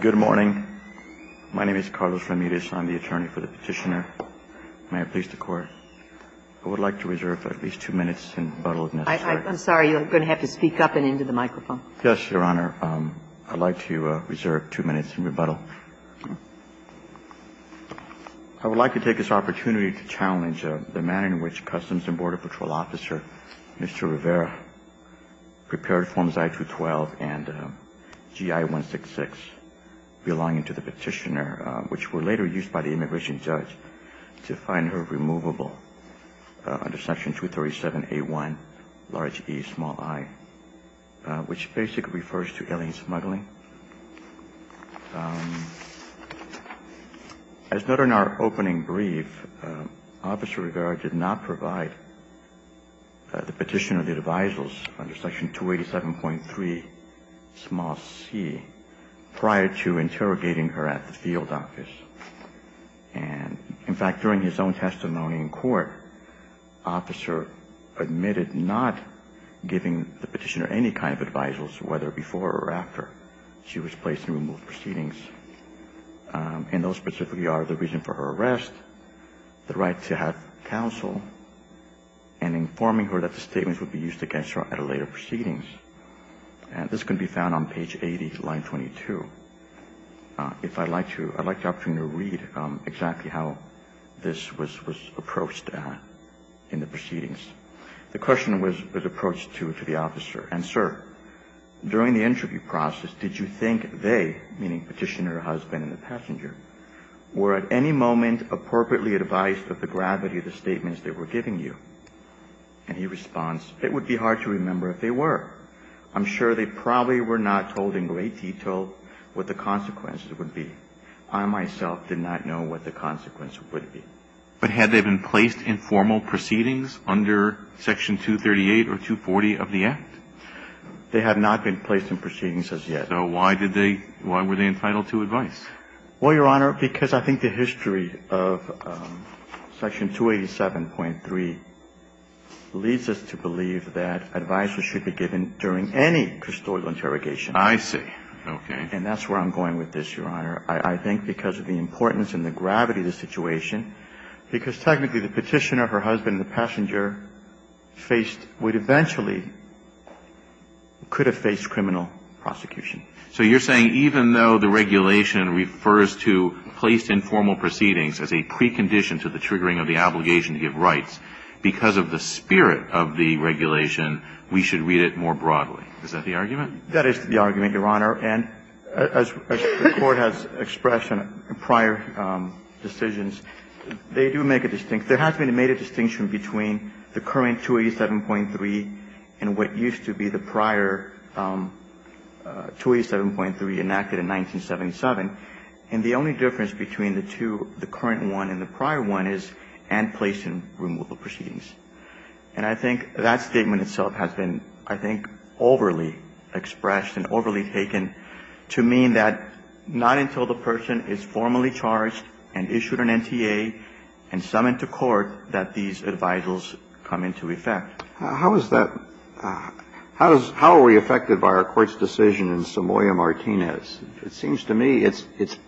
Good morning. My name is Carlos Ramirez. I'm the attorney for the Petitioner. May I please the Court? I would like to reserve at least two minutes in rebuttal if necessary. I'm sorry. You're going to have to speak up and into the microphone. Yes, Your Honor. I'd like to reserve two minutes in rebuttal. I would like to take this opportunity to challenge the manner in which Customs and Border Patrol Officer Mr. Rivera prepared Forms I-212 and GI-166 belonging to the Petitioner, which were later used by the immigration judge to find her removable under Section 237A-1, large E, small I, which basically refers to alien smuggling. As noted in our opening brief, Officer Rivera did not provide a formal response to the Petitioner's advisals under Section 287.3, small c, prior to interrogating her at the field office. And in fact, during his own testimony in court, Officer admitted not giving the Petitioner any kind of advisals, whether before or after she was placed in removal proceedings. And those specifically are the reason for her refusal to give the Petitioner any kind of advisals. I would like to take this opportunity to challenge the manner in which Customs and Border Patrol Officer Mr. Rivera prepared Forms I-212 and GI-166 belonging to the Petitioner, which were later used by the Petitioner, which basically refers to alien smuggling. And he responds, it would be hard to remember if they were. I'm sure they probably were not told in great detail what the consequences would be. I myself did not know what the consequences would be. But had they been placed in formal proceedings under Section 238 or 240 of the Act? They had not been placed in proceedings as yet. So why did they – why were they entitled to advice? Well, Your Honor, because I think the history of Section 287.3 leads us to believe that advice should be given during any custodial interrogation. I see. Okay. And that's where I'm going with this, Your Honor. I think because of the importance and the gravity of the situation, because technically the Petitioner, her husband, and the passenger faced – would eventually – could have faced criminal prosecution. So you're saying even though the regulation refers to placed in formal proceedings as a precondition to the triggering of the obligation to give rights, because of the spirit of the regulation, we should read it more broadly. Is that the argument? That is the argument, Your Honor. And as the Court has expressed in prior decisions, they do make a distinction – there has been made a distinction between the current 287.3 and what used to be the prior 287.3 enacted in 1977. And the only difference between the two, the current one and the prior one, is and placed in removal proceedings. And I think that statement itself has been, I think, overly expressed and overly taken to mean that not until the person is formally charged and issued an NTA and summoned to court that these advisals come into effect. How is that – how are we affected by our Court's decision in Somoya Martinez? It seems to me it's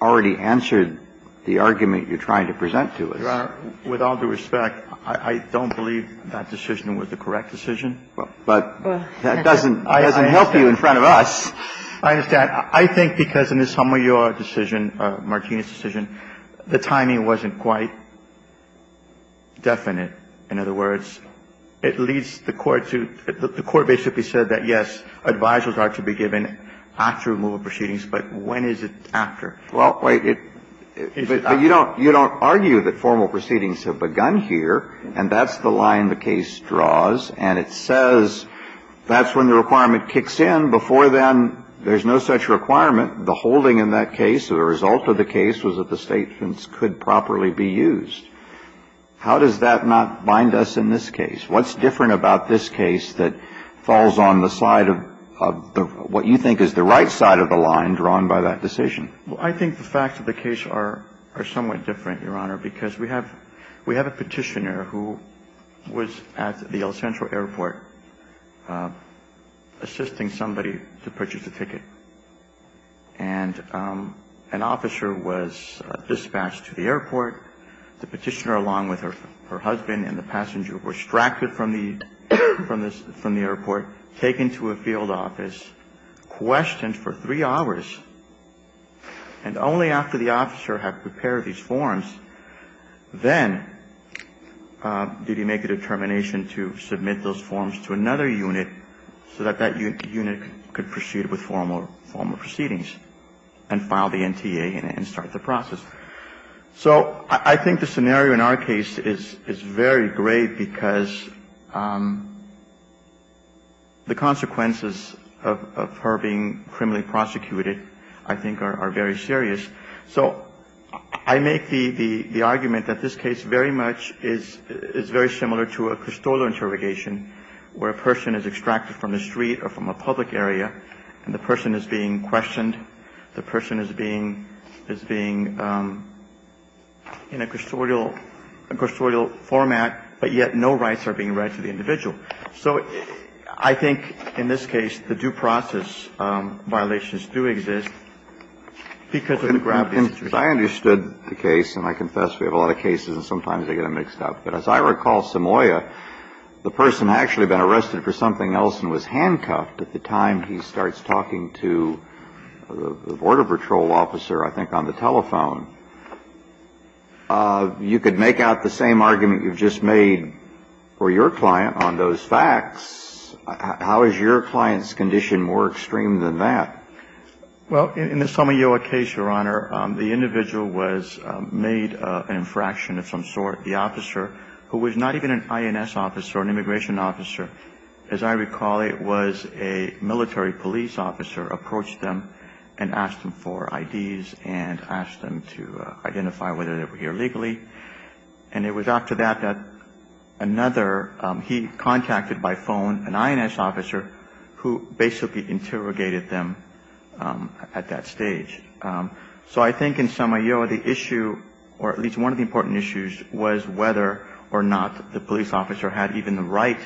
already answered the argument you're trying to present to us. Your Honor, with all due respect, I don't believe that decision was the correct decision. But that doesn't help you in front of us. I understand. I think because in the Somoya decision, Martinez decision, the timing wasn't quite definite. In other words, it leads the Court to – the Court basically said that, yes, advisals are to be given after removal proceedings, but when is it after? Well, wait. You don't – you don't argue that formal proceedings have begun here, and that's the line the case draws. And it says that's when the requirement kicks in. Before then, there's no such requirement. The holding in that case or the result of the case was that the statements could properly be used. How does that not bind us in this case? What's different about this case that falls on the side of what you think is the right side of the line drawn by that decision? Well, I think the facts of the case are somewhat different, Your Honor, because we have a petitioner who was at the El Centro airport assisting somebody to purchase a ticket. And an officer was dispatched to the airport. The petitioner, along with her husband and the passenger, were extracted from the airport, taken to a field office, questioned for three hours. And only after the officer had prepared these forms then did he make a determination to submit those forms to another unit so that that unit could proceed with formal proceedings and file the NTA and start the process. So I think the scenario in our case is very grave because the consequences of her being criminally prosecuted, I think, are very serious. So I make the argument that this case very much is very similar to a Cristolo interrogation where a person is extracted from the street or from a public area and the person is being questioned, the person is being, is being in a custodial format, but yet no rights are being read to the individual. So I think in this case the due process violations do exist because of the gravity of the situation. I understood the case, and I confess we have a lot of cases and sometimes they get mixed up. But as I recall, Samoya, the person had actually been arrested for something else and was handcuffed at the time he starts talking to the border patrol officer, I think, on the telephone. You could make out the same argument you've just made for your client on those facts. How is your client's condition more extreme than that? Well, in the Samoya case, Your Honor, the individual was made an infraction of some sort. The officer, who was not even an INS officer or an immigration officer, as I recall, it was a military police officer approached them and asked them for IDs and asked them to identify whether they were here legally. And it was after that that another, he contacted by phone an INS officer who basically interrogated them at that stage. So I think in Samoya, the issue, or at least one of the important issues, was whether or not the police officer had even the right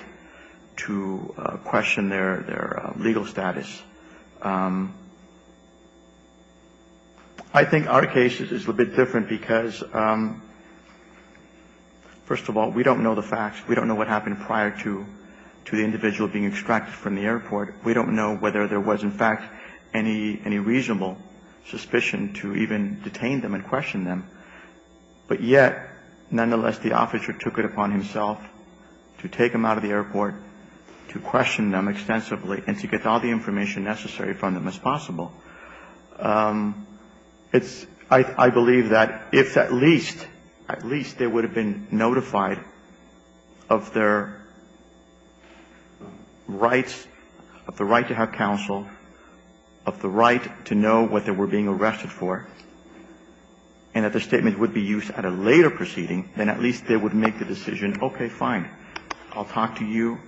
to question their legal status. I think our case is a bit different because, first of all, we don't know the facts. We don't know what happened prior to the individual being extracted from the airport. We don't know whether there was, in fact, any reasonable suspicion to even detain them and question them. But yet, nonetheless, the officer took it upon himself to take them out of the airport, to question them extensively, and to get all the information necessary from them as possible. I believe that if at least, at least they would have been notified of their rights of the right to have counsel, of the right to know what they were being arrested for, and that the statement would be used at a later proceeding, then at least they would make the decision, okay, fine, I'll talk to you,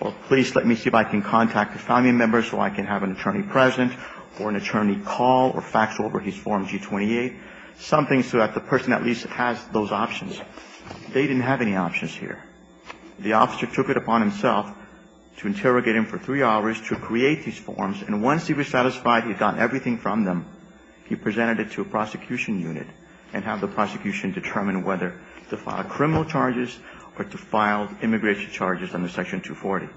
or please let me see if I can contact a family member so I can have an attorney present or an attorney call or fax over his Form G-28, something so that the person at least has those options. They didn't have any options here. The officer took it upon himself to interrogate him for three hours to create these forms, and once he was satisfied he had gotten everything from them, he presented it to a prosecution unit and had the prosecution determine whether to file criminal charges or to file immigration charges under Section 240.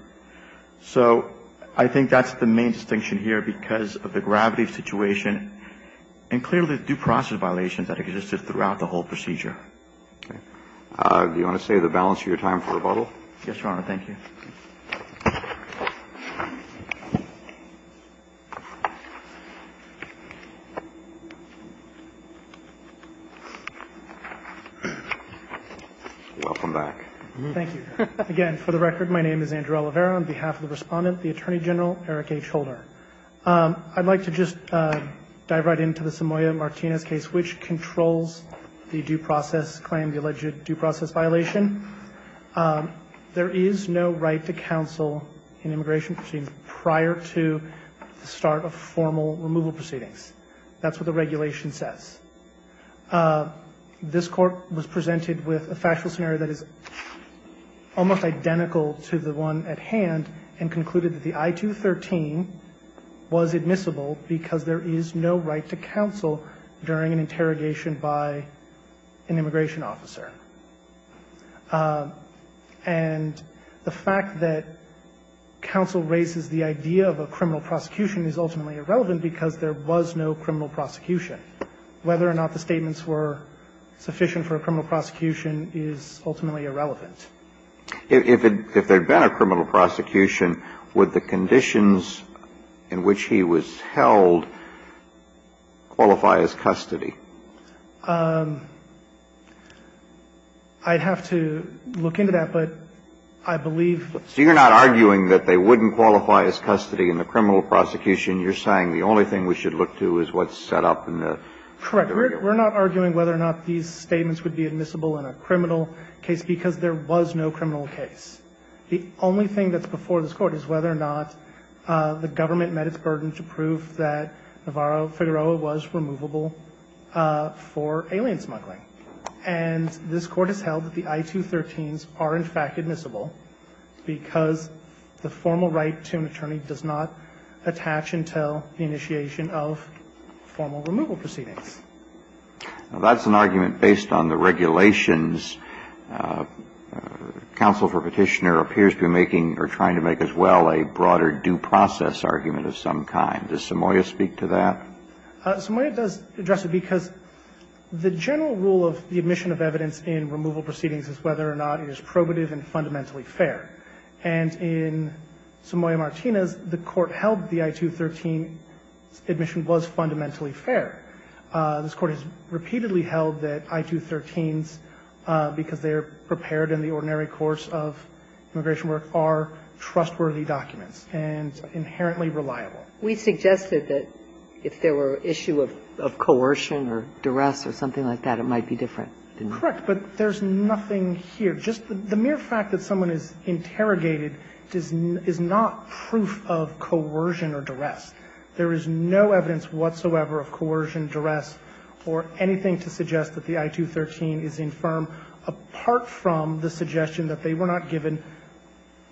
So I think that's the main distinction here because of the gravity of the situation and clearly the due process violations that existed throughout the whole procedure. Do you want to say the balance of your time for rebuttal? Yes, Your Honor. Thank you. Welcome back. Thank you. Again, for the record, my name is Andrew Oliveira. On behalf of the Respondent, the Attorney General, Eric H. Holder. I'd like to just dive right into the Samoya-Martinez case, which controls the due process claim, the alleged due process violation. There is no right to counsel in immigration proceedings prior to the start of formal removal proceedings. That's what the regulation says. This Court was presented with a factual scenario that is almost identical to the one that we have here. And the Court presented that scenario at hand and concluded that the I-213 was admissible because there is no right to counsel during an interrogation by an immigration officer. And the fact that counsel raises the idea of a criminal prosecution is ultimately irrelevant. If there had been a criminal prosecution, would the conditions in which he was held qualify as custody? I'd have to look into that. But I believe the ---- So you're not arguing that they wouldn't qualify as custody in the criminal prosecution. You're saying the only thing we should look to is what's set up in the ---- Correct. We're not arguing whether or not these statements would be admissible in a criminal case because there was no criminal case. The only thing that's before this Court is whether or not the government met its burden to prove that Navarro-Figueroa was removable for alien smuggling. And this Court has held that the I-213s are, in fact, admissible because the formal right to an attorney does not attach until the initiation of formal removal proceedings. Now, that's an argument based on the regulations. Counsel for Petitioner appears to be making or trying to make as well a broader due process argument of some kind. Does Somoya speak to that? Somoya does address it because the general rule of the admission of evidence in removal proceedings is whether or not it is probative and fundamentally fair. And in Somoya-Martinez, the Court held the I-213 admission was fundamentally fair. This Court has repeatedly held that I-213s, because they're prepared in the ordinary course of immigration work, are trustworthy documents and inherently reliable. We suggested that if there were an issue of coercion or duress or something like that, it might be different, didn't we? Correct. But there's nothing here. Just the mere fact that someone is interrogated is not proof of coercion or duress. There is no evidence whatsoever of coercion, duress, or anything to suggest that the I-213 is infirm apart from the suggestion that they were not given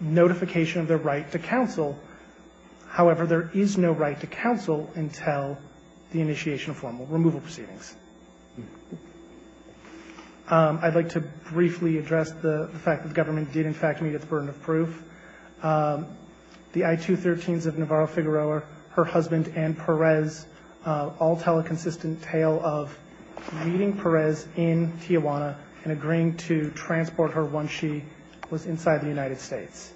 notification of their right to counsel. However, there is no right to counsel until the initiation of formal removal proceedings. I'd like to briefly address the fact that the government did in fact meet its burden of proof. The I-213s of Navarro-Figueroa, her husband, and Perez all tell a consistent tale of meeting Perez in Tijuana and agreeing to transport her once she was inside the United States.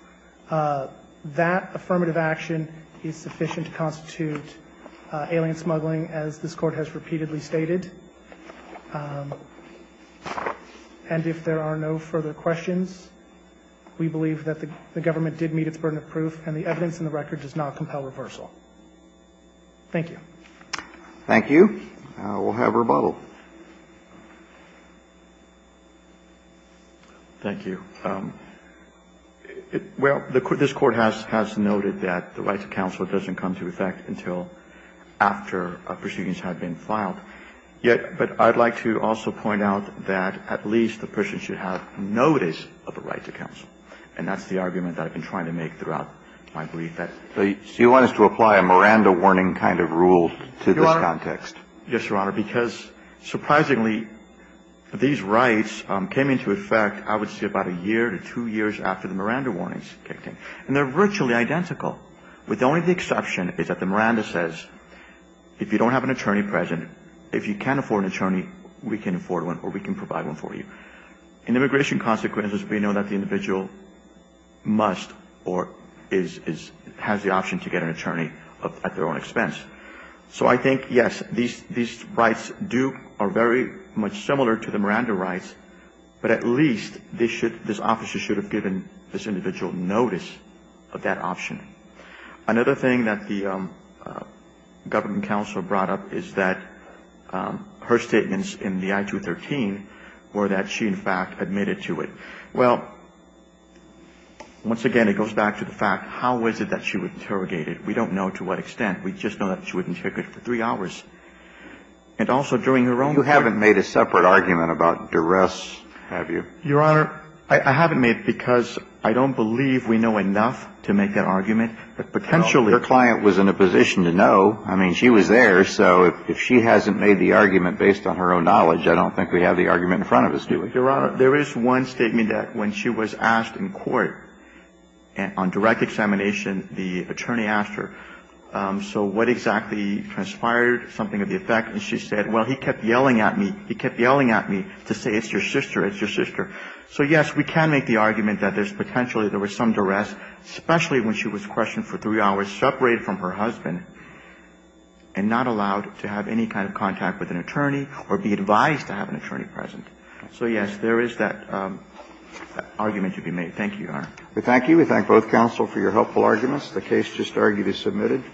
That affirmative action is sufficient to constitute alien smuggling, as this Court has repeatedly stated. And if there are no further questions, we believe that the government did meet its burden of proof and the evidence in the record does not compel reversal. Thank you. Thank you. We'll have rebuttal. Thank you. Well, this Court has noted that the right to counsel doesn't come into effect until after proceedings have been filed. But I'd like to also point out that at least the person should have notice of a right to counsel. And that's the argument that I've been trying to make throughout my brief. So you want us to apply a Miranda warning kind of rule to this context? Yes, Your Honor, because surprisingly, these rights came into effect, I would say, about a year to two years after the Miranda warnings kicked in. And they're virtually identical. With only the exception is that the Miranda says, if you don't have an attorney present, if you can't afford an attorney, we can afford one or we can provide one for you. In immigration consequences, we know that the individual must or has the option to get an attorney at their own expense. So I think, yes, these rights are very much similar to the Miranda rights, but at least this officer should have given this individual notice of that option. Another thing that the government counsel brought up is that her statements in the I-213 were that she, in fact, admitted to it. Well, once again, it goes back to the fact, how is it that she was interrogated? We don't know to what extent. We just know that she was interrogated for three hours. And also during her own time. So you haven't made a separate argument about duress, have you? Your Honor, I haven't made it because I don't believe we know enough to make that argument, but potentially her client was in a position to know. I mean, she was there. So if she hasn't made the argument based on her own knowledge, I don't think we have the argument in front of us, do we? Your Honor, there is one statement that when she was asked in court on direct examination, the attorney asked her, so what exactly transpired, something of the effect? And she said, well, he kept yelling at me. He kept yelling at me to say, it's your sister, it's your sister. So, yes, we can make the argument that there's potentially, there was some duress, especially when she was questioned for three hours, separated from her husband and not allowed to have any kind of contact with an attorney or be advised to have an attorney present. So, yes, there is that argument to be made. Thank you, Your Honor. We thank you. We thank both counsel for your helpful arguments. The case just argued is submitted.